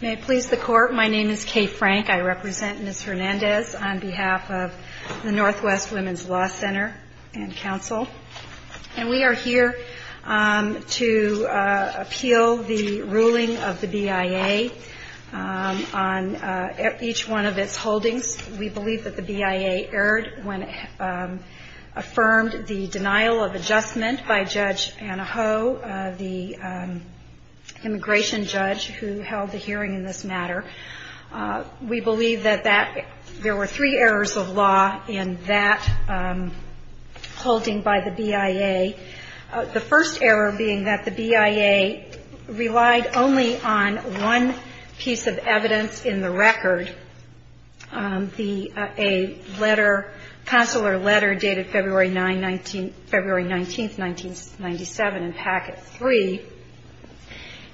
May it please the Court, my name is Kay Frank. I represent Ms. Hernandez on behalf of the Northwest Women's Law Center and Council. And we are here to appeal the ruling of the BIA on each one of its holdings. We believe that the BIA erred when it affirmed the denial of adjustment by Judge Anna Ho, the immigration judge who held the hearing in this matter. We believe that there were three errors of law in that holding by the BIA. The first error being that the BIA relied only on one piece of evidence in the record. A letter, consular letter dated February 19, 1997 in packet 3.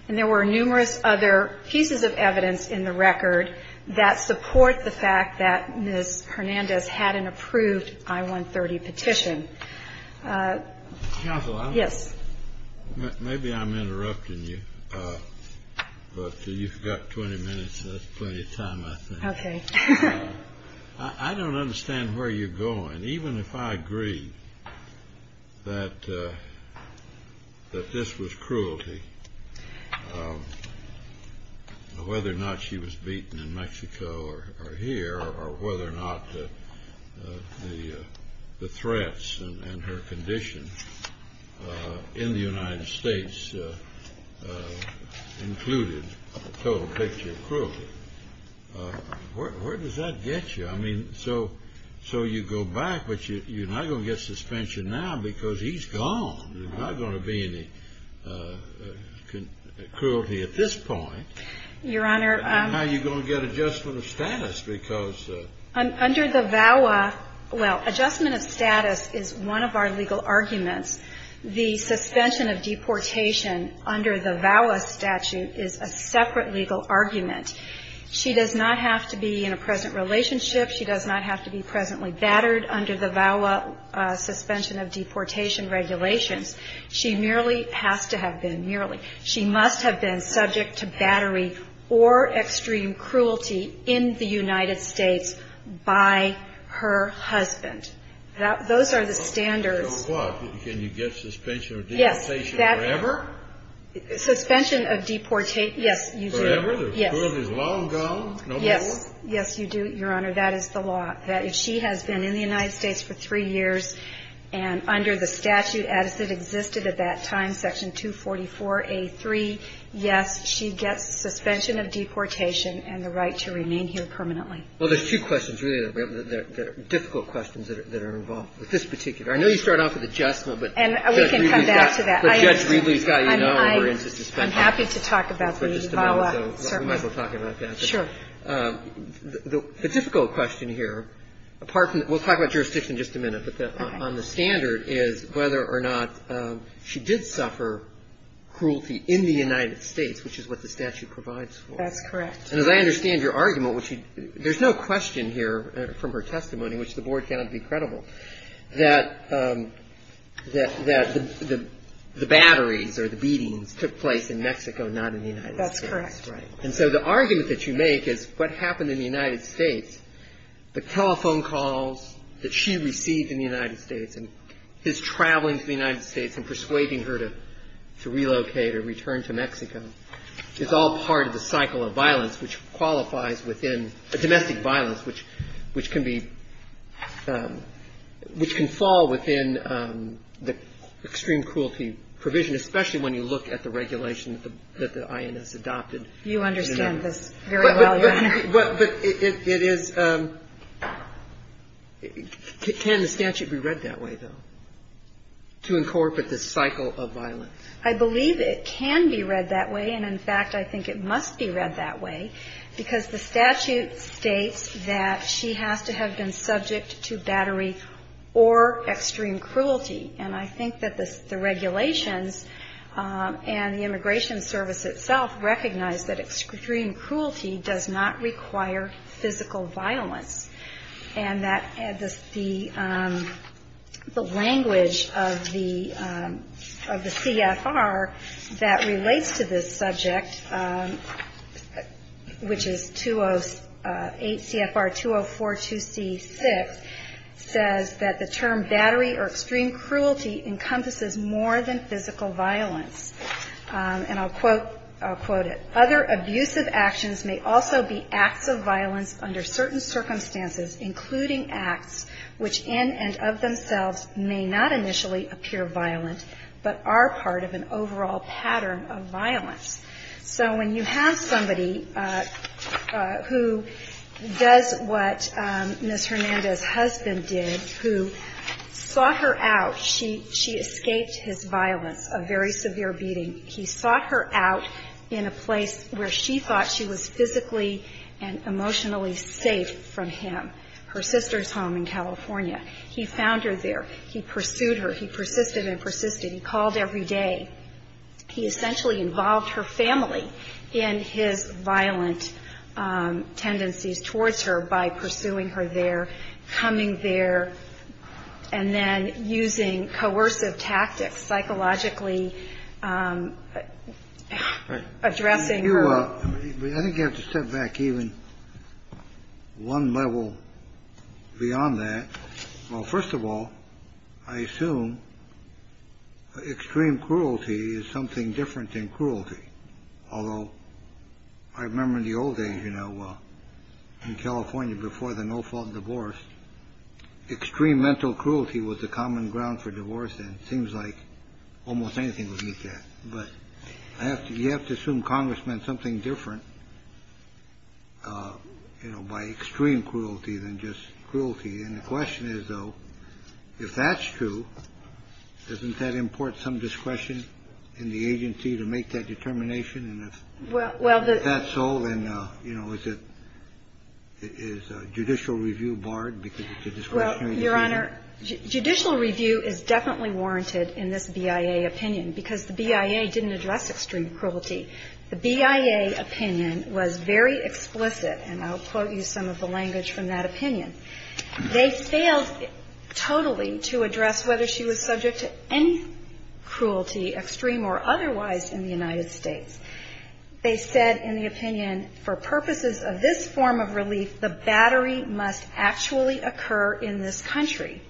And there were numerous other pieces of evidence in the record that support the fact that Ms. Hernandez had an approved I-130 petition. Mr. Counsel, maybe I'm interrupting you, but you've got 20 minutes, that's plenty of time I think. I don't understand where you're going, even if I agree that this was cruelty. Whether or not she was beaten in Mexico or here, or whether or not the threats and her condition in the United States included total picture cruelty. Where does that get you? I mean, so you go back, but you're not going to get suspension now because he's gone. There's not going to be any cruelty at this point. Your Honor. How are you going to get adjustment of status? Under the VAWA, well, adjustment of status is one of our legal arguments. The suspension of deportation under the VAWA statute is a separate legal argument. She does not have to be in a present relationship. She does not have to be presently battered under the VAWA suspension of deportation regulations. She merely has to have been, merely. She must have been subject to battery or extreme cruelty in the United States by her husband. Those are the standards. So what? Can you get suspension of deportation forever? Suspension of deportation, yes, you do. Forever? Yes. The cruelty is long gone? Yes. Yes, you do, Your Honor. That is the law. She has been in the United States for three years, and under the statute as it existed at that time, Section 244A3, yes, she gets suspension of deportation and the right to remain here permanently. Well, there's two questions really that are difficult questions that are involved with this particular. I know you start off with adjustment, but Judge Reedley's got you now, and we're into suspension. I'm happy to talk about the VAWA, certainly. We might as well talk about that. Sure. The difficult question here, apart from the – we'll talk about jurisdiction in just a minute, but on the standard is whether or not she did suffer cruelty in the United States, which is what the statute provides for. That's correct. And as I understand your argument, which you – there's no question here from her testimony, which the Board cannot be credible, that the batteries or the beatings took place in Mexico, not in the United States. That's correct. Right. And so the argument that you make is what happened in the United States, the telephone calls that she received in the United States and his traveling to the United States and persuading her to relocate or return to Mexico is all part of the cycle of violence which qualifies within – domestic violence which can be – which can fall within the extreme cruelty provision, especially when you look at the regulation that the INS adopted. But it is – can the statute be read that way, though, to incorporate this cycle of violence? I believe it can be read that way. And, in fact, I think it must be read that way because the statute states that she has to have been subject to battery or extreme cruelty. And I think that the regulations and the Immigration Service itself recognize that extreme cruelty does not require physical violence. And that the language of the CFR that relates to this subject, which is 208 CFR 2042C6, says that the term battery or extreme cruelty encompasses more than physical violence. And I'll quote – I'll quote it. Other abusive actions may also be acts of violence under certain circumstances, including acts which in and of themselves may not initially appear violent, but are part of an overall pattern of violence. So when you have somebody who does what Ms. Hernandez's husband did, who saw her out, she escaped his violence, a very severe beating. He sought her out in a place where she thought she was physically and emotionally safe from him, her sister's home in California. He found her there. He pursued her. He persisted and persisted. He called every day. He essentially involved her family in his violent tendencies towards her by pursuing her there, coming there, and then using coercive tactics, psychologically addressing her. I think you have to step back even one level beyond that. Well, first of all, I assume extreme cruelty is something different than cruelty. Although I remember in the old days, you know, in California before the no-fault divorce, extreme mental cruelty was the common ground for divorce. And it seems like almost anything would meet that. But you have to assume Congress meant something different by extreme cruelty than just cruelty. And the question is, though, if that's true, doesn't that import some discretion in the agency to make that determination? And if that's so, then, you know, is judicial review barred because it's a discretionary opinion? Well, Your Honor, judicial review is definitely warranted in this BIA opinion because the BIA didn't address extreme cruelty. The BIA opinion was very explicit, and I'll quote you some of the language from that opinion. They failed totally to address whether she was subject to any cruelty, extreme or otherwise, in the United States. They said in the opinion, for purposes of this form of relief, the battery must actually occur in this country.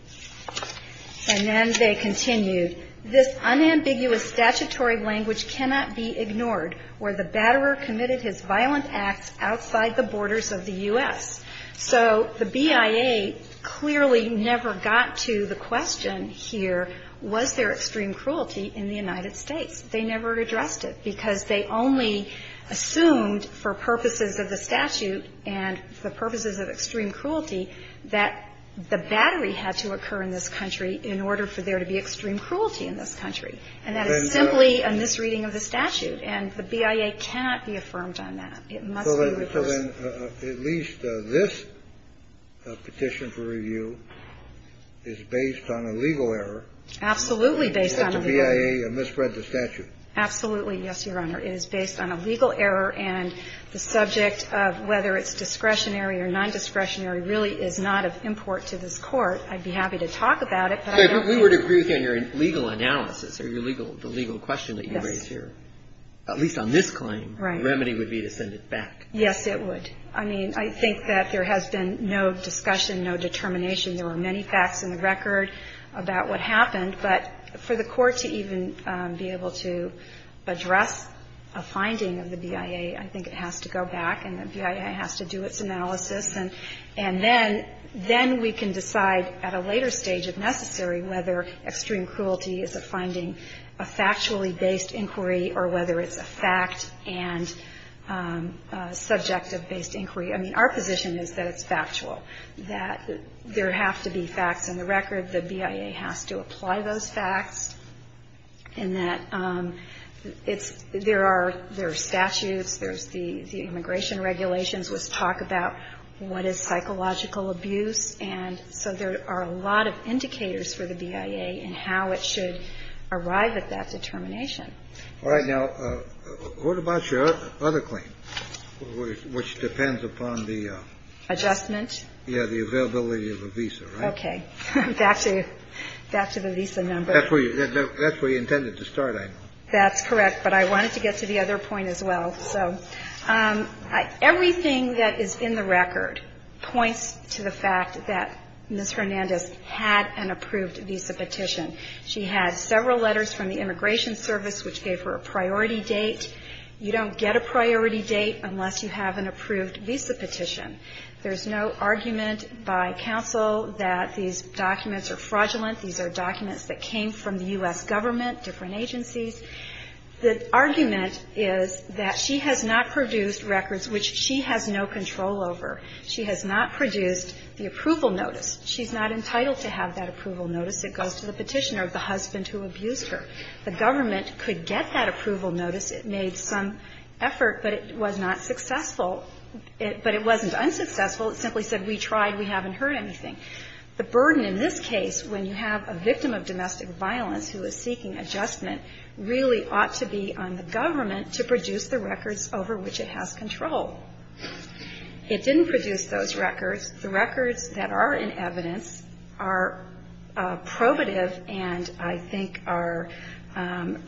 And then they continued, this unambiguous statutory language cannot be ignored, where the batterer committed his violent acts outside the borders of the U.S. So the BIA clearly never got to the question here, was there extreme cruelty in the United States? They never addressed it because they only assumed for purposes of the statute and for purposes of extreme cruelty that the battery had to occur in this country in order for there to be extreme cruelty in this country. And that is simply a misreading of the statute. And the BIA cannot be affirmed on that. It must be reversed. So then at least this petition for review is based on a legal error. Absolutely based on a legal error. That the BIA misread the statute. Absolutely. Yes, Your Honor. It is based on a legal error, and the subject of whether it's discretionary or nondiscretionary really is not of import to this Court. I'd be happy to talk about it, but I don't think we can. Okay. But we would agree with you on your legal analysis or your legal question that you raise here. At least on this claim. Right. The remedy would be to send it back. Yes, it would. I mean, I think that there has been no discussion, no determination. There were many facts in the record about what happened. But for the Court to even be able to address a finding of the BIA, I think it has to go back and the BIA has to do its analysis. And then we can decide at a later stage, if necessary, whether extreme cruelty is a finding, a factually-based inquiry, or whether it's a fact and a subjective-based inquiry. I mean, our position is that it's factual, that there have to be facts in the record. The BIA has to apply those facts, and that it's – there are statutes. There's the immigration regulations which talk about what is psychological abuse. And so there are a lot of indicators for the BIA in how it should arrive at that determination. All right. Now, what about your other claim, which depends upon the – Adjustment? Yeah, the availability of a visa, right? Okay. Back to the visa number. That's where you intended to start, I know. That's correct. But I wanted to get to the other point as well. So everything that is in the record points to the fact that Ms. Hernandez had an approved visa petition. She had several letters from the Immigration Service which gave her a priority date. You don't get a priority date unless you have an approved visa petition. There's no argument by counsel that these documents are fraudulent. These are documents that came from the U.S. government, different agencies. The argument is that she has not produced records which she has no control over. She has not produced the approval notice. She's not entitled to have that approval notice. It goes to the petitioner of the husband who abused her. The government could get that approval notice. It made some effort, but it was not successful. But it wasn't unsuccessful. It simply said, we tried. We haven't heard anything. The burden in this case, when you have a victim of domestic violence who is seeking adjustment, really ought to be on the government to produce the records over which it has control. It didn't produce those records. The records that are in evidence are probative and I think are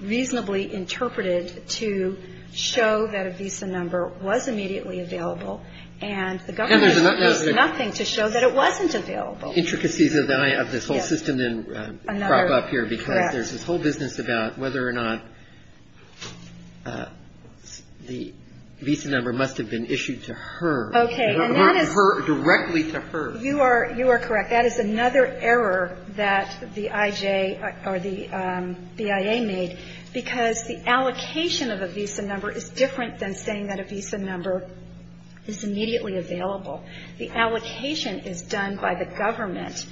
reasonably interpreted to show that a visa number was immediately available. And the government does nothing to show that it wasn't available. Roberts. Intricacies of this whole system then crop up here because there's this whole business about whether or not the visa number must have been issued to her, not her, directly to her. You are correct. That is another error that the I.J. or the BIA made because the allocation of a visa number is different than saying that a visa number is immediately available. The allocation is done by the government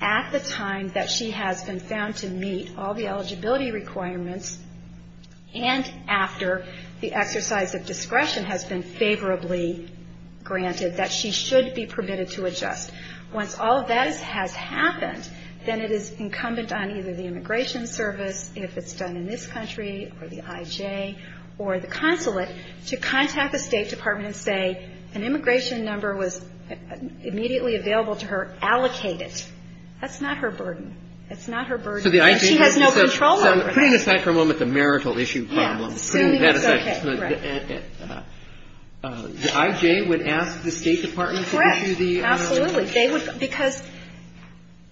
at the time that she has been found to meet all the eligibility requirements and after the exercise of discretion has been favorably granted that she should be permitted to adjust. Once all of that has happened, then it is incumbent on either the Immigration Service, if it's done in this country, or the I.J. or the consulate, to contact the State Department and say an immigration number was immediately available to her. Allocate it. That's not her burden. That's not her burden. And she has no control over that. So putting aside for a moment the marital issue problem, putting that aside. Yeah. Assuming it's okay. Right. The I.J. would ask the State Department to issue the I.J. number? Absolutely. They would because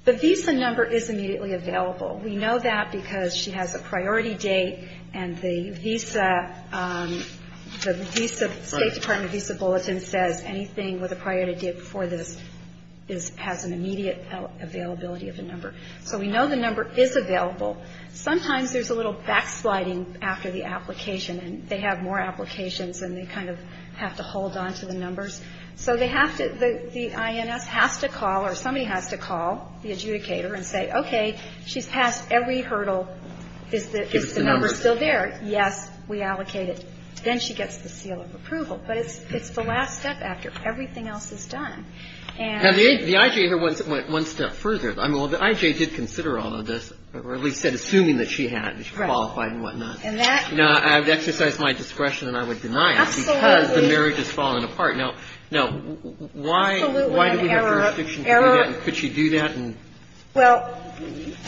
the visa number is immediately available. We know that because she has a priority date and the visa, the State Department visa bulletin says anything with a priority date before this has an immediate availability of the number. So we know the number is available. Sometimes there's a little backsliding after the application and they have more applications and they kind of have to hold on to the numbers. So they have to, the INS has to call or somebody has to call the adjudicator and say, okay, she's passed every hurdle. Is the number still there? Yes. We allocate it. Then she gets the seal of approval. But it's the last step after everything else is done. And the I.J. went one step further. I mean, well, the I.J. did consider all of this, or at least said assuming that she had, that she qualified and whatnot. Right. And that. Now, I would exercise my discretion and I would deny it. Absolutely. Because the marriage has fallen apart. Now, why do we have jurisdiction to do that and could she do that? Well,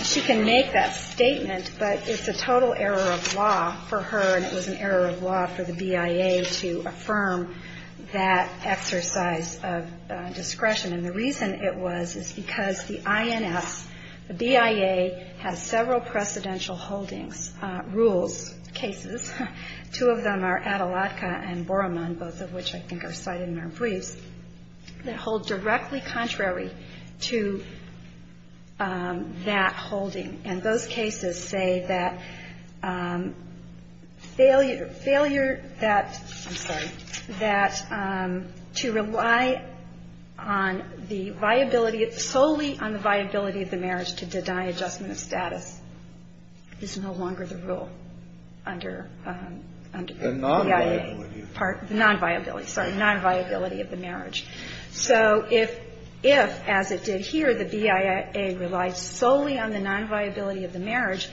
she can make that statement. But it's a total error of law for her and it was an error of law for the BIA to affirm that exercise of discretion. And the reason it was is because the INS, the BIA has several precedential holdings, rules, cases. Two of them are Atalatka and Boroman, both of which I think are cited in our briefs, that hold directly contrary to that holding. And those cases say that failure, failure that, I'm sorry, that to rely on the viability of, solely on the viability of the marriage to deny adjustment of status is no longer the rule under BIA. The non-viability. The non-viability, sorry. The non-viability of the marriage. So if, as it did here, the BIA relies solely on the non-viability of the marriage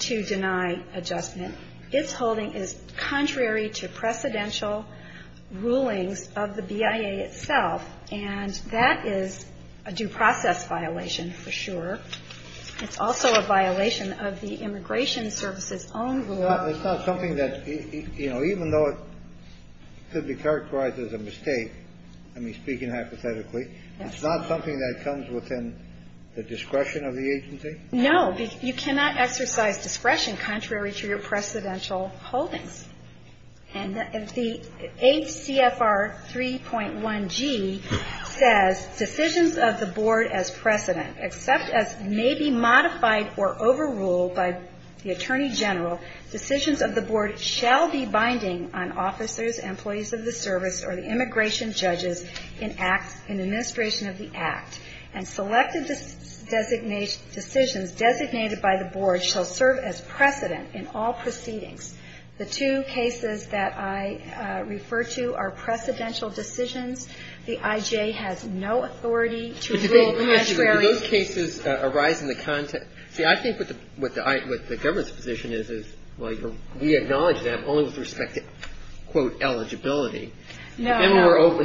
to deny adjustment, its holding is contrary to precedential rulings of the BIA itself. And that is a due process violation for sure. It's also a violation of the Immigration Service's own rule. It's not something that, you know, even though it could be characterized as a mistake, I mean, speaking hypothetically, it's not something that comes within the discretion of the agency? No. You cannot exercise discretion contrary to your precedential holdings. And the ACFR 3.1G says, Decisions of the board as precedent, except as may be modified or overruled by the Attorney General, decisions of the board shall be binding on officers, employees of the service, or the immigration judges in administration of the act. And selected decisions designated by the board shall serve as precedent in all proceedings. The two cases that I refer to are precedential decisions. The I.J. has no authority to rule contrary. Do those cases arise in the context? See, I think what the government's position is, is, well, we acknowledge that only with respect to, quote, eligibility. No. And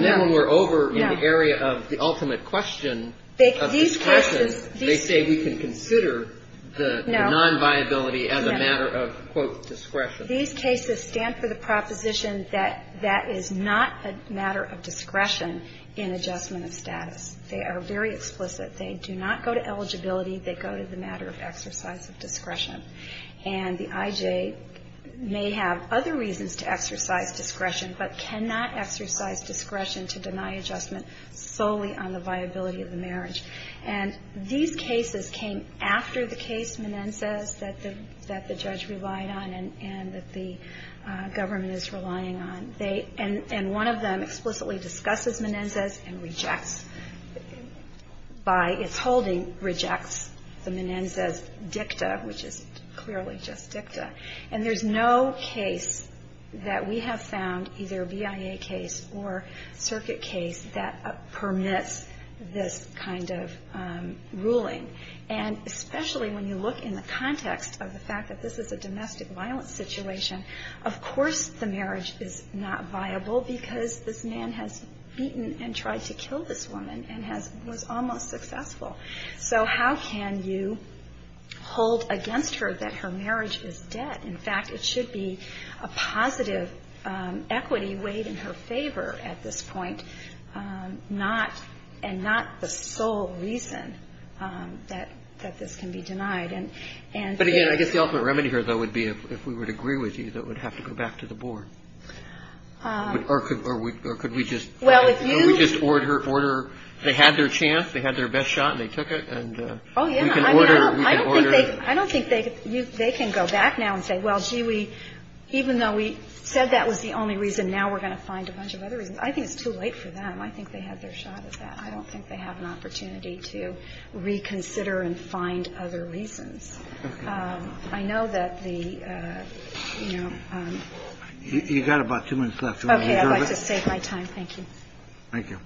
then when we're over in the area of the ultimate question of discretion, they say we can consider the non-viability as a matter of, quote, discretion. These cases stand for the proposition that that is not a matter of discretion in adjustment of status. They are very explicit. They do not go to eligibility. They go to the matter of exercise of discretion. And the I.J. may have other reasons to exercise discretion, but cannot exercise discretion to deny adjustment solely on the viability of the marriage. And these cases came after the case, Menendez, that the judge relied on and that the government is relying on. And one of them explicitly discusses Menendez and rejects by its holding, rejects the Menendez dicta, which is clearly just dicta. And there's no case that we have found, either a BIA case or circuit case, that permits this kind of ruling. And especially when you look in the context of the fact that this is a domestic violence situation, of course the marriage is not viable because this man has beaten and tried to kill this woman and was almost successful. So how can you hold against her that her marriage is dead? In fact, it should be a positive equity weighed in her favor at this point, not and not the sole reason that this can be denied. And there is the ultimate remedy here, though, would be if we would agree with you, that would have to go back to the board. Or could we just order, they had their chance, they had their best shot and they took it, and we can order. I don't think they can go back now and say, well, gee, even though we said that was the only reason, now we're going to find a bunch of other reasons. I think it's too late for them. I think they had their shot at that. I don't think they have an opportunity to reconsider and find other reasons. I know that the, you know. You've got about two minutes left. I'd like to save my time. Thank you. Thank you.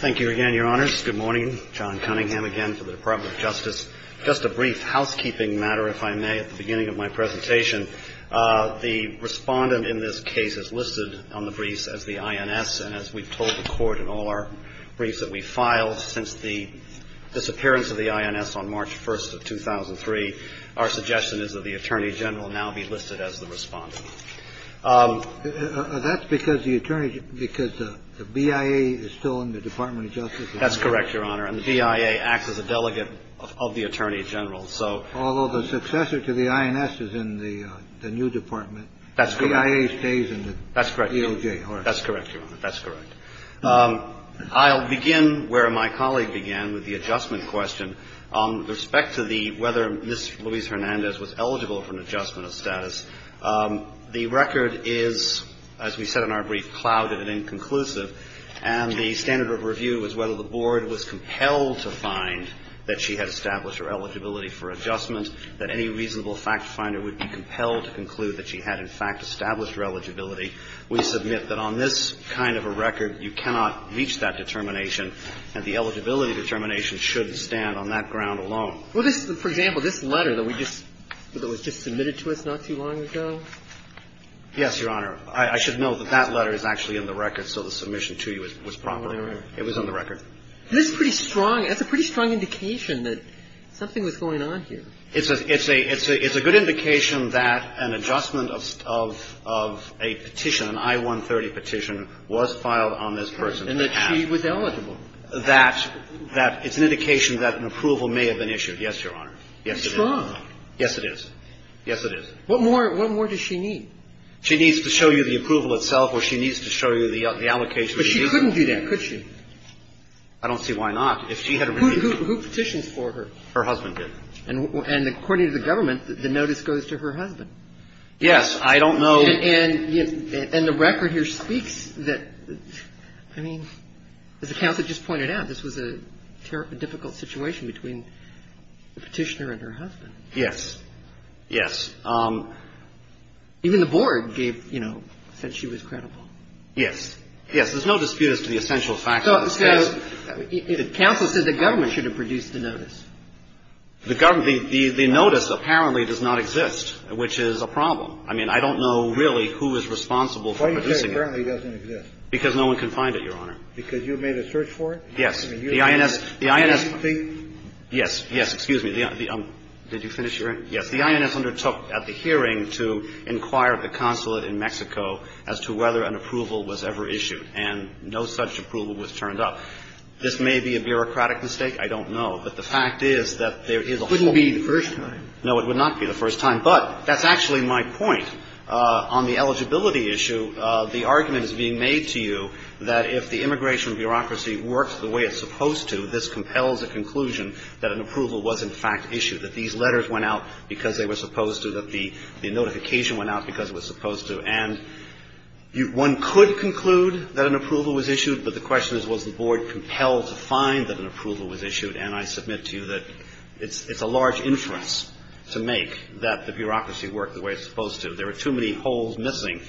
Thank you again, Your Honors. Good morning. John Cunningham again for the Department of Justice. Just a brief housekeeping matter, if I may, at the beginning of my presentation. The respondent in this case is listed on the briefs as the INS, and as we've told the Our suggestion is that the attorney general now be listed as the respondent. That's because the attorney, because the BIA is still in the Department of Justice. That's correct, Your Honor. And the BIA acts as a delegate of the attorney general. So although the successor to the INS is in the new department, that's BIA stays in the DOJ. That's correct. That's correct. That's correct. I'll begin where my colleague began with the adjustment question. With respect to the whether Ms. Louise Hernandez was eligible for an adjustment of status, the record is, as we said in our brief, clouded and inconclusive. And the standard of review is whether the board was compelled to find that she had established her eligibility for adjustment, that any reasonable fact finder would be compelled to conclude that she had, in fact, established her eligibility. We submit that on this kind of a record, you cannot reach that determination, and the eligibility determination shouldn't stand on that ground alone. Well, this, for example, this letter that we just, that was just submitted to us not too long ago? Yes, Your Honor. I should note that that letter is actually in the record, so the submission to you was properly in the record. It was in the record. This is pretty strong. That's a pretty strong indication that something was going on here. It's a good indication that an adjustment of a petition, an I-130 petition, was filed on this person. And that she was eligible. That it's an indication that an approval may have been issued. Yes, Your Honor. It's strong. Yes, it is. Yes, it is. What more does she need? She needs to show you the approval itself or she needs to show you the allocation of the reason. But she couldn't do that, could she? I don't see why not. If she had a reason. Who petitions for her? Her husband did. And according to the government, the notice goes to her husband. Yes. I don't know. And the record here speaks that, I mean, as the counsel just pointed out, this was a difficult situation between the petitioner and her husband. Yes. Yes. Even the board gave, you know, said she was credible. Yes. Yes. There's no dispute as to the essential fact of the case. Counsel said the government should have produced the notice. The government, the notice apparently does not exist, which is a problem. I mean, I don't know really who is responsible for producing it. Why do you say it apparently doesn't exist? Because no one can find it, Your Honor. Because you made a search for it? Yes. The INS, the INS. Yes. Yes. Excuse me. Did you finish your answer? Yes. The INS undertook at the hearing to inquire at the consulate in Mexico as to whether an approval was ever issued, and no such approval was turned up. This may be a bureaucratic mistake. I don't know. But the fact is that there is a whole group of people. It wouldn't be the first time. No, it would not be the first time. But that's actually my point. On the eligibility issue, the argument is being made to you that if the immigration bureaucracy works the way it's supposed to, this compels a conclusion that an approval was in fact issued, that these letters went out because they were supposed to, that the notification went out because it was supposed to. And one could conclude that an approval was issued, but the question is, was the board compelled to find that an approval was issued? And I submit to you that it's a large inference to make that the bureaucracy worked the way it's supposed to. There are too many holes missing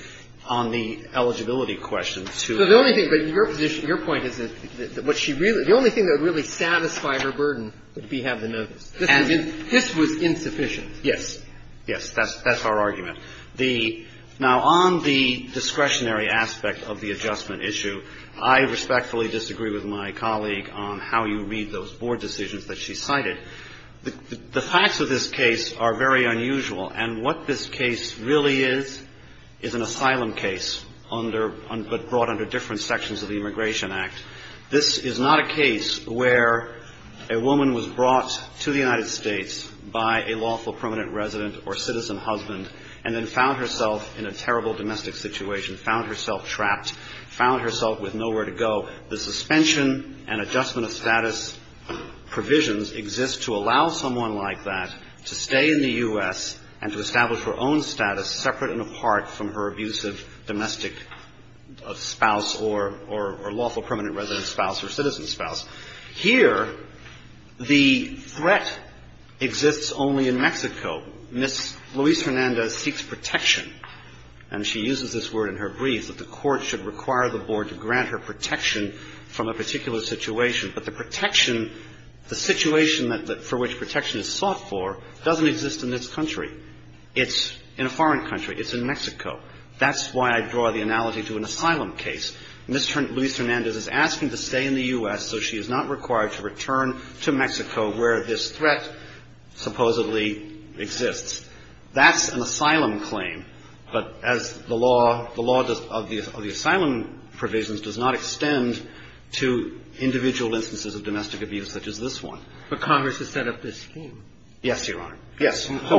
on the eligibility question to be able to find out. So the only thing, but your position, your point is that what she really, the only thing that would really satisfy her burden would be to have the notice. This was insufficient. Yes. Yes. That's our argument. Now, on the discretionary aspect of the adjustment issue, I respectfully disagree with my colleague on how you read those board decisions that she cited. The facts of this case are very unusual. And what this case really is, is an asylum case under, but brought under different sections of the Immigration Act. This is not a case where a woman was brought to the United States by a lawful permanent resident or citizen husband and then found herself in a terrible domestic situation, found herself trapped, found herself with nowhere to go. The suspension and adjustment of status provisions exist to allow someone like that to stay in the U.S. and to establish her own status separate and apart from her abusive domestic spouse or lawful permanent resident spouse or citizen spouse. Here, the threat exists only in Mexico. Ms. Luis-Hernandez seeks protection, and she uses this word in her briefs, that the court should require the board to grant her protection from a particular situation. But the protection, the situation for which protection is sought for doesn't exist in this country. It's in a foreign country. It's in Mexico. That's why I draw the analogy to an asylum case. Ms. Luis-Hernandez is asking to stay in the U.S. so she is not required to return to Mexico where this threat supposedly exists. That's an asylum claim. But as the law, the law of the asylum provisions does not extend to individual instances of domestic abuse such as this one. But Congress has set up this scheme. Yes, Your Honor. So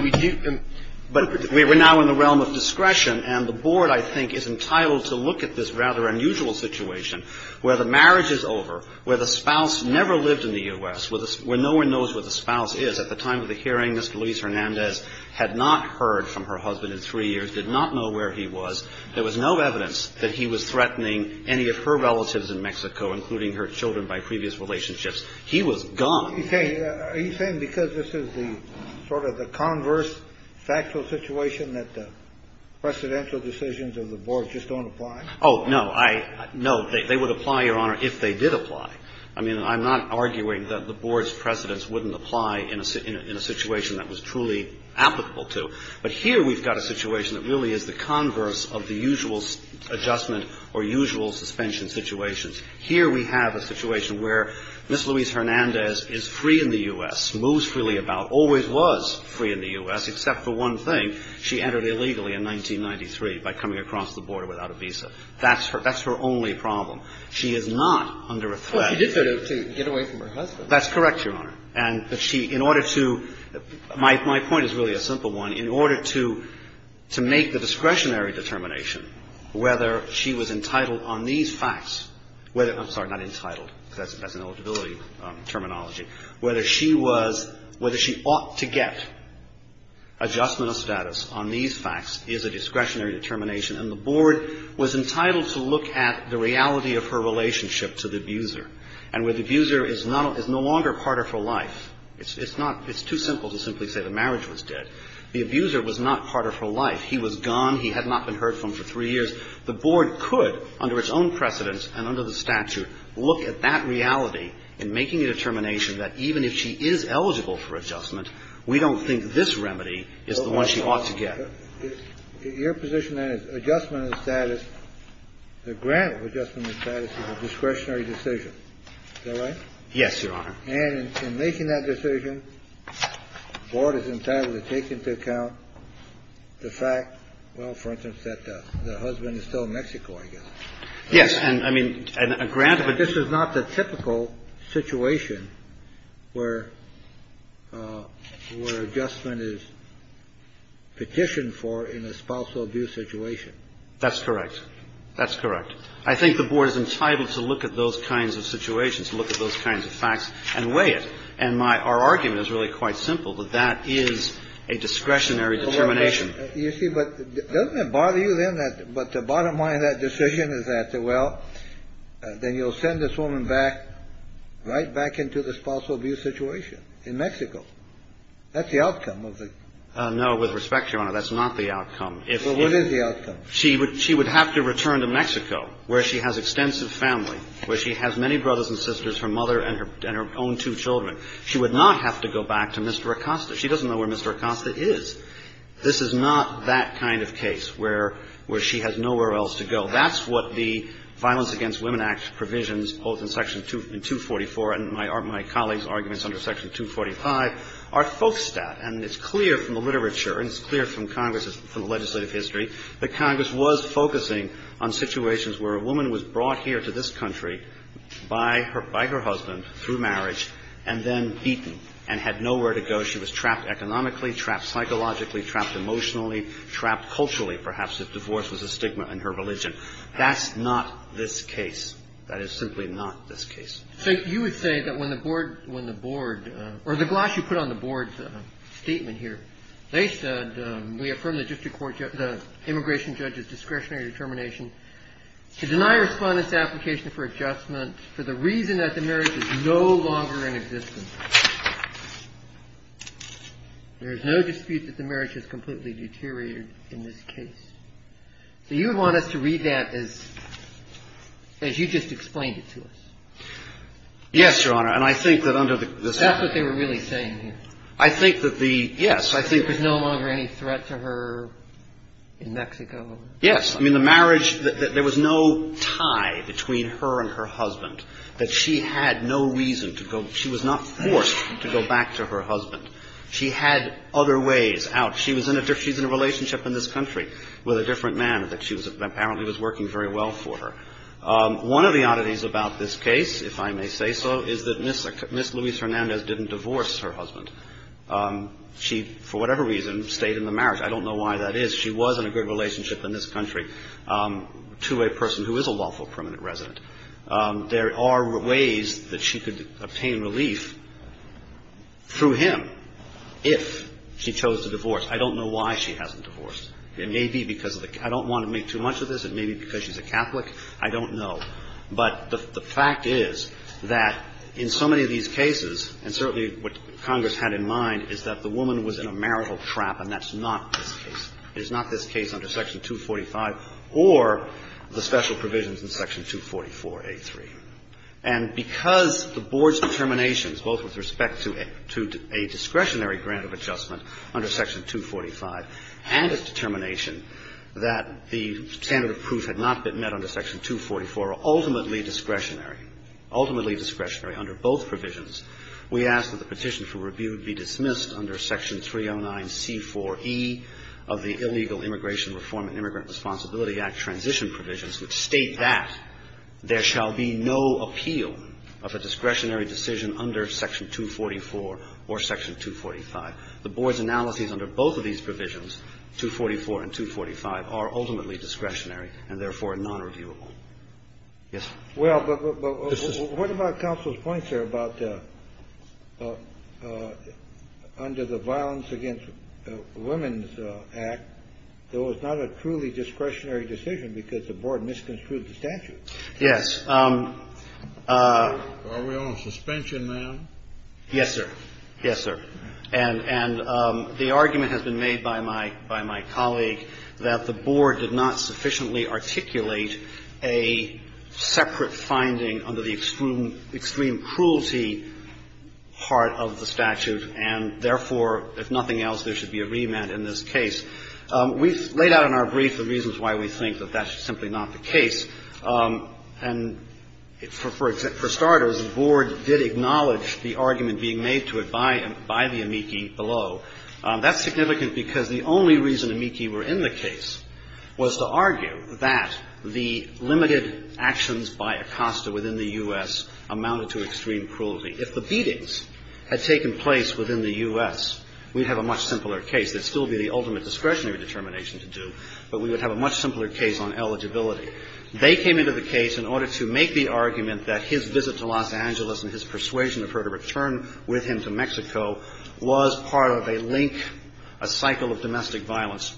we do – But we're now in the realm of discretion. And the board, I think, is entitled to look at this rather unusual situation where the marriage is over, where the spouse never lived in the U.S., where no one knows where the spouse is. At the time of the hearing, Ms. Luis-Hernandez had not heard from her husband in three years, did not know where he was. There was no evidence that he was threatening any of her relatives in Mexico, including her children by previous relationships. He was gone. Are you saying because this is the sort of the converse factual situation that the presidential decisions of the board just don't apply? Oh, no. No, they would apply, Your Honor, if they did apply. I mean, I'm not arguing that the board's precedents wouldn't apply in a situation that was truly applicable to. But here we've got a situation that really is the converse of the usual adjustment or usual suspension situations. Here we have a situation where Ms. Luis-Hernandez is free in the U.S., moves freely about, always was free in the U.S., except for one thing. She entered illegally in 1993 by coming across the border without a visa. That's her only problem. She is not under a threat. Well, she did go to get away from her husband. That's correct, Your Honor. And she, in order to, my point is really a simple one. In order to make the discretionary determination whether she was entitled on these facts, whether, I'm sorry, not entitled, because that's an eligibility terminology, whether she was, whether she ought to get adjustment of status on these facts is a discretionary determination. And the board was entitled to look at the reality of her relationship to the abuser. And where the abuser is not, is no longer part of her life, it's not, it's too simple to simply say the marriage was dead. The abuser was not part of her life. He was gone. He had not been heard from for three years. The board could, under its own precedence and under the statute, look at that reality in making a determination that even if she is eligible for adjustment, we don't think this remedy is the one she ought to get. Your position then is adjustment of status, the grant of adjustment of status is a discretionary decision. Is that right? Yes, Your Honor. And in making that decision, the board is entitled to take into account the fact, well, for instance, that the husband is still in Mexico, I guess. Yes. And, I mean, a grant of adjustment. This is not the typical situation where adjustment is petitioned for in a spousal abuse situation. That's correct. That's correct. I think the board is entitled to look at those kinds of situations, look at those kinds of facts, and weigh it. And my, our argument is really quite simple, that that is a discretionary determination. You see, but doesn't it bother you then that, but the bottom line of that decision is that, well, then you'll send this woman back, right back into the spousal abuse situation in Mexico. That's the outcome of the. No, with respect, Your Honor, that's not the outcome. Well, what is the outcome? She would have to return to Mexico where she has extensive family, where she has many brothers and sisters, her mother and her own two children. She would not have to go back to Mr. Acosta. She doesn't know where Mr. Acosta is. This is not that kind of case where she has nowhere else to go. That's what the Violence Against Women Act provisions, both in Section 244 and my colleagues' arguments under Section 245, are focused at. And it's clear from the literature and it's clear from Congress's legislative history that Congress was focusing on situations where a woman was brought here to this country by her husband through marriage and then beaten and had nowhere to go. So she was trapped economically, trapped psychologically, trapped emotionally, trapped culturally, perhaps, if divorce was a stigma in her religion. That's not this case. That is simply not this case. So you would say that when the Board or the gloss you put on the Board's statement here, they said, we affirm the district court, the immigration judge's discretionary determination to deny respondents' application for adjustment for the reason that the marriage is no longer in existence. There is no dispute that the marriage has completely deteriorated in this case. So you would want us to read that as you just explained it to us. Yes, Your Honor. And I think that under the statute. That's what they were really saying here. I think that the yes, I think. There's no longer any threat to her in Mexico. Yes. I mean, the marriage, there was no tie between her and her husband, that she had no reason to go. She was not forced to go back to her husband. She had other ways out. She's in a relationship in this country with a different man that she apparently was working very well for her. One of the oddities about this case, if I may say so, is that Ms. Luis-Hernandez didn't divorce her husband. She, for whatever reason, stayed in the marriage. I don't know why that is. She was in a good relationship in this country to a person who is a lawful permanent resident. There are ways that she could obtain relief through him if she chose to divorce. I don't know why she hasn't divorced. It may be because of the – I don't want to make too much of this. It may be because she's a Catholic. I don't know. But the fact is that in so many of these cases, and certainly what Congress had in mind, is that the woman was in a marital trap, and that's not this case. And I think it's important to note that in the case of Section 244A, there was no There was no discretionary grant of adjustment under Section 245A. There was no discretionary grant of adjustment under Section 245 or the special provisions in Section 244A. And because the Board's determinations, both with respect to a discretionary grant of adjustment under Section 245 and its determination that the standard of proof had not been met under Section 244, are ultimately discretionary, ultimately discretionary under both provisions, we ask that the petition for review be dismissed under Section 309C4E of the Illegal Immigration Reform and Immigrant Responsibility Act transition provisions, which state that there shall be no appeal of a discretionary decision under Section 244 or Section 245. The Board's analyses under both of these provisions, 244 and 245, are ultimately discretionary and therefore nonreviewable. Yes, sir. Well, but what about counsel's point, sir, about under the Violence Against Women's Act, there was not a truly discretionary decision because the Board misconstrued the statute. Yes. Are we on suspension, ma'am? Yes, sir. Yes, sir. And the argument has been made by my colleague that the Board did not sufficiently articulate a separate finding under the extreme cruelty part of the statute and therefore, if nothing else, there should be a remand in this case. We've laid out in our brief the reasons why we think that that's simply not the case. And for starters, the Board did acknowledge the argument being made to it by the amici below. That's significant because the only reason amici were in the case was to argue that the limited actions by Acosta within the U.S. amounted to extreme cruelty. If the beatings had taken place within the U.S., we'd have a much simpler case. That would still be the ultimate discretionary determination to do, but we would have a much simpler case on eligibility. They came into the case in order to make the argument that his visit to Los Angeles and his persuasion of her to return with him to Mexico was part of a link, a cycle of domestic violence.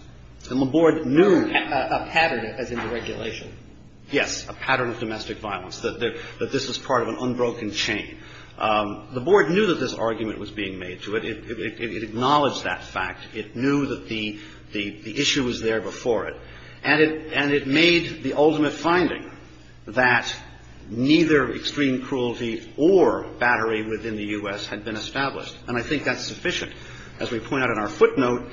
And the Board knew. A pattern, as in the regulation. Yes. A pattern of domestic violence, that this was part of an unbroken chain. The Board knew that this argument was being made to it. It acknowledged that fact. It knew that the issue was there before it. And it made the ultimate finding that neither extreme cruelty or battery within the U.S. had been established. And I think that's sufficient. As we point out in our footnote,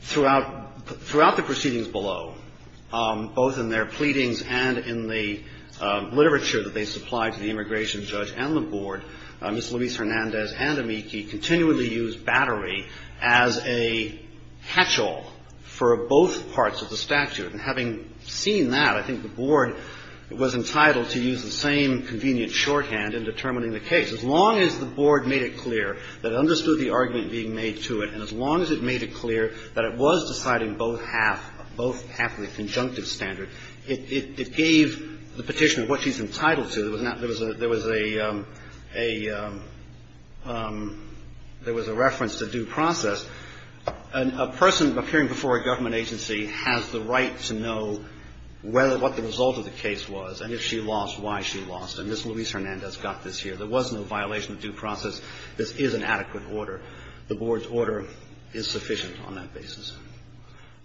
throughout the proceedings below, both in their pleadings and in the literature that they supplied to the immigration judge and the Board, Ms. Luis Hernandez and amici continually used battery as a hatchel for both parts of the And having seen that, I think the Board was entitled to use the same convenient shorthand in determining the case. As long as the Board made it clear that it understood the argument being made to it, and as long as it made it clear that it was deciding both half, both half of the conjunctive standard, it gave the Petitioner what she's entitled to. There was a reference to due process. A person appearing before a government agency has the right to know what the result of the case was and if she lost, why she lost. And Ms. Luis Hernandez got this here. There was no violation of due process. This is an adequate order. The Board's order is sufficient on that basis.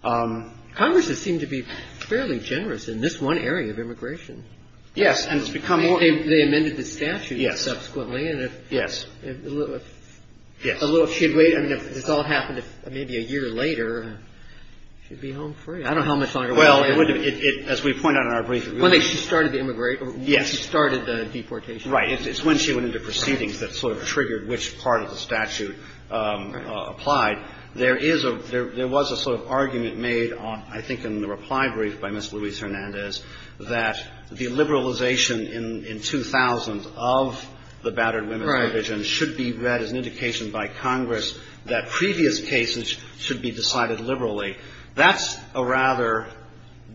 Congress has seemed to be fairly generous in this one area of immigration. Yes. And it's become more. They amended the statute subsequently. Yes. Yes. I mean, if this all happened maybe a year later, she'd be home free. I don't know how much longer. Well, as we point out in our brief. One day she started the immigration. Yes. She started the deportation. Right. It's when she went into proceedings that sort of triggered which part of the statute applied. There was a sort of argument made, I think, in the reply brief by Ms. Luis Hernandez that the liberalization in 2000 of the battered women's provision should be read as an indication by Congress that previous cases should be decided liberally. That's a rather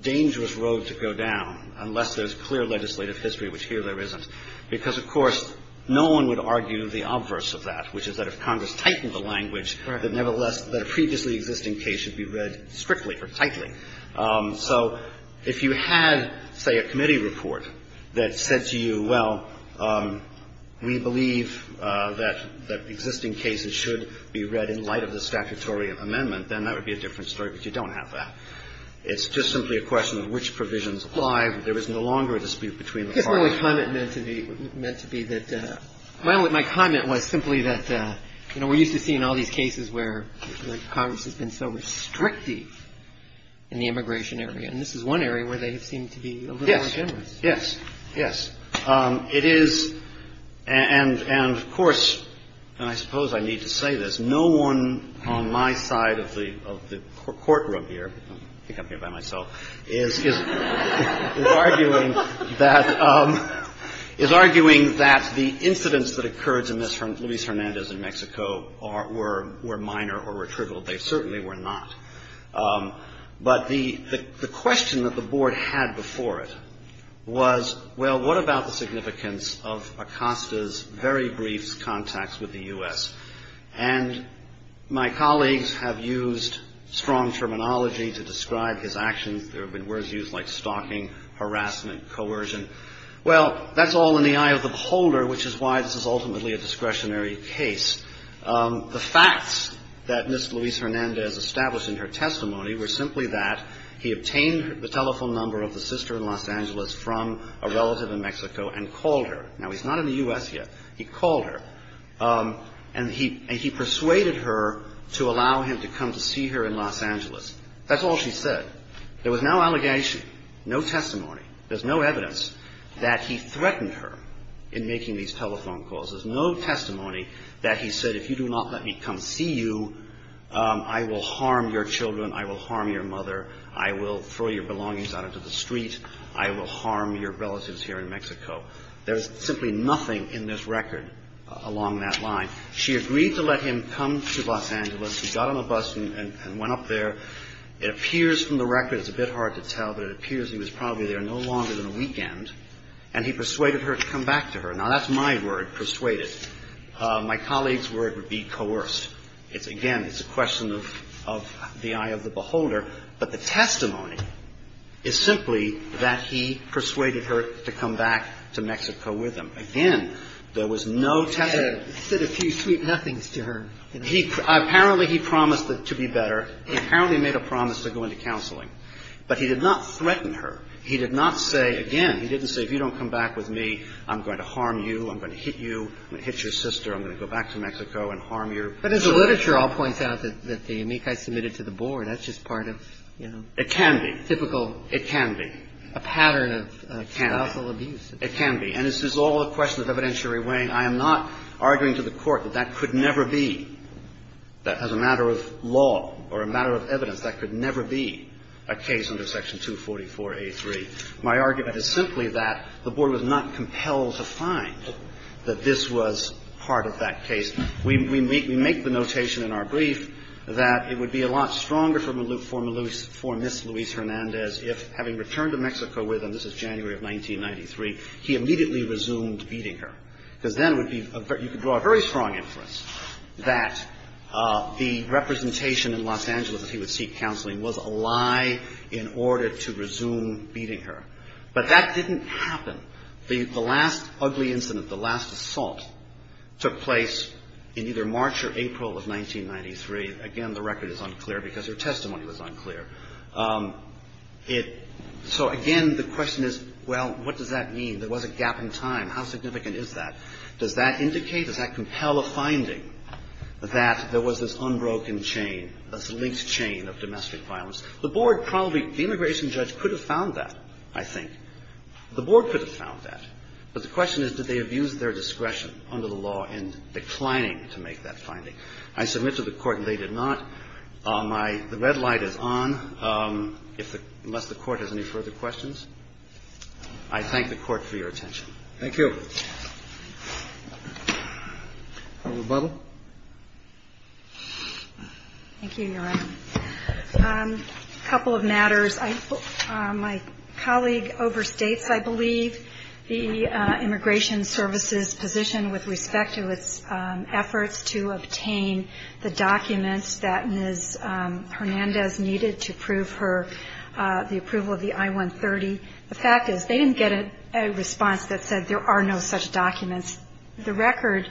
dangerous road to go down unless there's clear legislative history, which here there isn't, because, of course, no one would argue the obverse of that, which is that if Congress tightened the language, that nevertheless the previously existing case should be read strictly or tightly. So if you had, say, a committee report that said to you, well, we believe that existing cases should be read in light of the statutory amendment, then that would be a different story, but you don't have that. It's just simply a question of which provisions apply. There is no longer a dispute between the parties. I guess my comment meant to be that my comment was simply that, you know, we're so restrictive in the immigration area, and this is one area where they seem to be a little more generous. Yes. Yes. Yes. It is, and of course, and I suppose I need to say this, no one on my side of the courtroom here, I think I'm here by myself, is arguing that the incidents that occurred to Ms. Acosta were minor or were trivial. They certainly were not. But the question that the Board had before it was, well, what about the significance of Acosta's very brief contacts with the U.S.? And my colleagues have used strong terminology to describe his actions. There have been words used like stalking, harassment, coercion. Well, that's all in the eye of the beholder, which is why this is ultimately a discretionary case. The facts that Ms. Luis Hernandez established in her testimony were simply that he obtained the telephone number of the sister in Los Angeles from a relative in Mexico and called her. Now, he's not in the U.S. yet. He called her, and he persuaded her to allow him to come to see her in Los Angeles. That's all she said. There was no allegation, no testimony. There's no evidence that he threatened her in making these telephone calls. There's no testimony that he said, if you do not let me come see you, I will harm your children, I will harm your mother, I will throw your belongings out into the street, I will harm your relatives here in Mexico. There's simply nothing in this record along that line. She agreed to let him come to Los Angeles. He got on a bus and went up there. It appears from the record, it's a bit hard to tell, but it appears he was probably there no longer than a weekend, and he persuaded her to come back to her. Now, that's my word, persuaded. My colleague's word would be coerced. Again, it's a question of the eye of the beholder. But the testimony is simply that he persuaded her to come back to Mexico with him. Again, there was no testimony. He said a few sweet nothings to her. Apparently, he promised to be better. He apparently made a promise to go into counseling. But he did not threaten her. He did not say, again, he didn't say, if you don't come back with me, I'm going to harm you, I'm going to hit you, I'm going to hit your sister, I'm going to go back to Mexico and harm your sister. But as the literature all points out that the amici submitted to the board, that's just part of, you know, typical. It can be. A pattern of spousal abuse. It can be. And this is all a question of evidentiary weighing. I am not arguing to the Court that that could never be, that as a matter of law or a matter of evidence, that could never be a case under Section 244a3. My argument is simply that the board was not compelled to find that this was part of that case. We make the notation in our brief that it would be a lot stronger for Ms. Luis Hernandez if, having returned to Mexico with him, this is January of 1993, he immediately resumed beating her. Because then it would be you could draw a very strong inference that the representation in Los Angeles that he would seek counseling was a lie in order to resume beating her. But that didn't happen. The last ugly incident, the last assault, took place in either March or April of 1993. Again, the record is unclear because her testimony was unclear. So, again, the question is, well, what does that mean? There was a gap in time. How significant is that? Does that indicate, does that compel a finding that there was this unbroken chain? This linked chain of domestic violence? The board probably, the immigration judge could have found that, I think. The board could have found that. But the question is, did they abuse their discretion under the law in declining to make that finding? I submit to the Court they did not. My red light is on, unless the Court has any further questions. I thank the Court for your attention. Thank you. Dr. Buble. Thank you, Your Honor. A couple of matters. My colleague overstates, I believe, the Immigration Service's position with respect to its efforts to obtain the documents that Ms. Hernandez needed to prove her, the approval of the I-130. The fact is, they didn't get a response that said there are no such documents. The record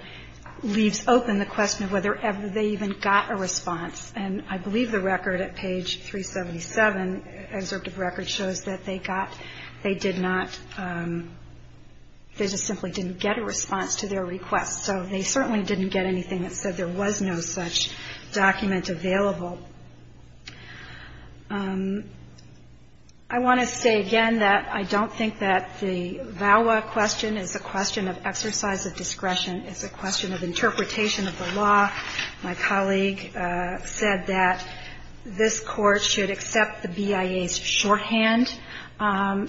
leaves open the question of whether they even got a response. And I believe the record at page 377, the excerpt of the record, shows that they got, they did not, they just simply didn't get a response to their request. So they certainly didn't get anything that said there was no such document available. I want to say again that I don't think that the VAWA question is a question of exercise of discretion. It's a question of interpretation of the law. My colleague said that this Court should accept the BIA's shorthand.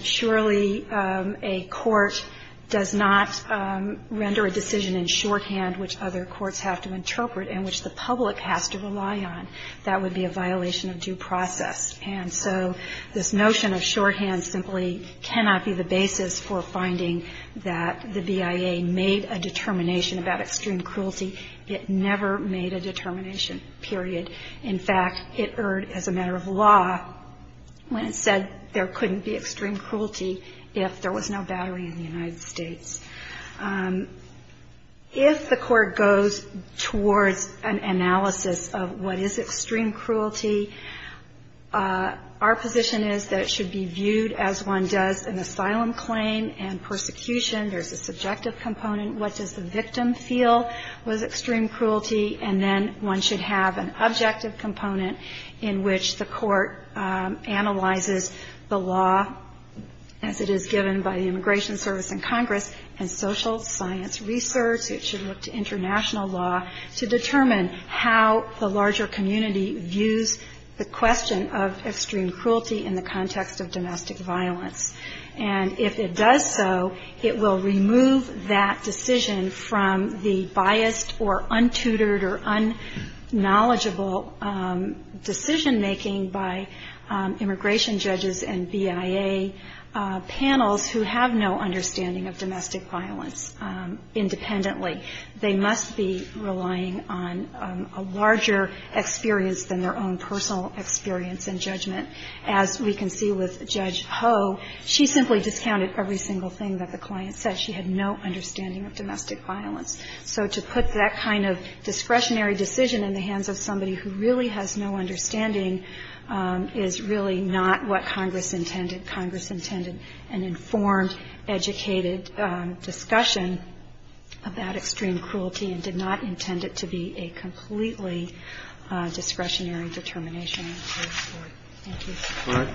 Surely a court does not render a decision in shorthand which other courts have to interpret and which the public has to rely on. That would be a violation of due process. And so this notion of shorthand simply cannot be the basis for finding that the BIA made a determination about extreme cruelty. It never made a determination, period. In fact, it erred as a matter of law when it said there couldn't be extreme cruelty if there was no battery in the United States. If the Court goes towards an analysis of what is extreme cruelty, our position is that it should be viewed as one does an asylum claim and persecution. There's a subjective component. What does the victim feel was extreme cruelty? And then one should have an objective component in which the Court analyzes the law, as it is given by the Immigration Service and Congress and social science research. It should look to international law to determine how the larger community views the question of extreme cruelty in the context of domestic violence. And if it does so, it will remove that decision from the biased or untutored or unknowledgeable decision-making by immigration judges and BIA panels who have no understanding of domestic violence independently. They must be relying on a larger experience than their own personal experience and judgment. As we can see with Judge Ho, she simply discounted every single thing that the client said. She had no understanding of domestic violence. So to put that kind of discretionary decision in the hands of somebody who really has no understanding is really not what Congress intended. Congress intended an informed, educated discussion about extreme cruelty and did not intend it to be a completely discretionary determination. Thank you.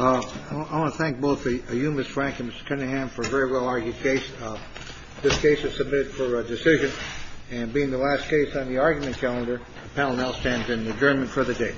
I want to thank both of you, Ms. Frank and Mr. Cunningham, for a very well-argued case. This case is submitted for a decision and being the last case on the argument calendar. The panel now stands in adjournment for the day.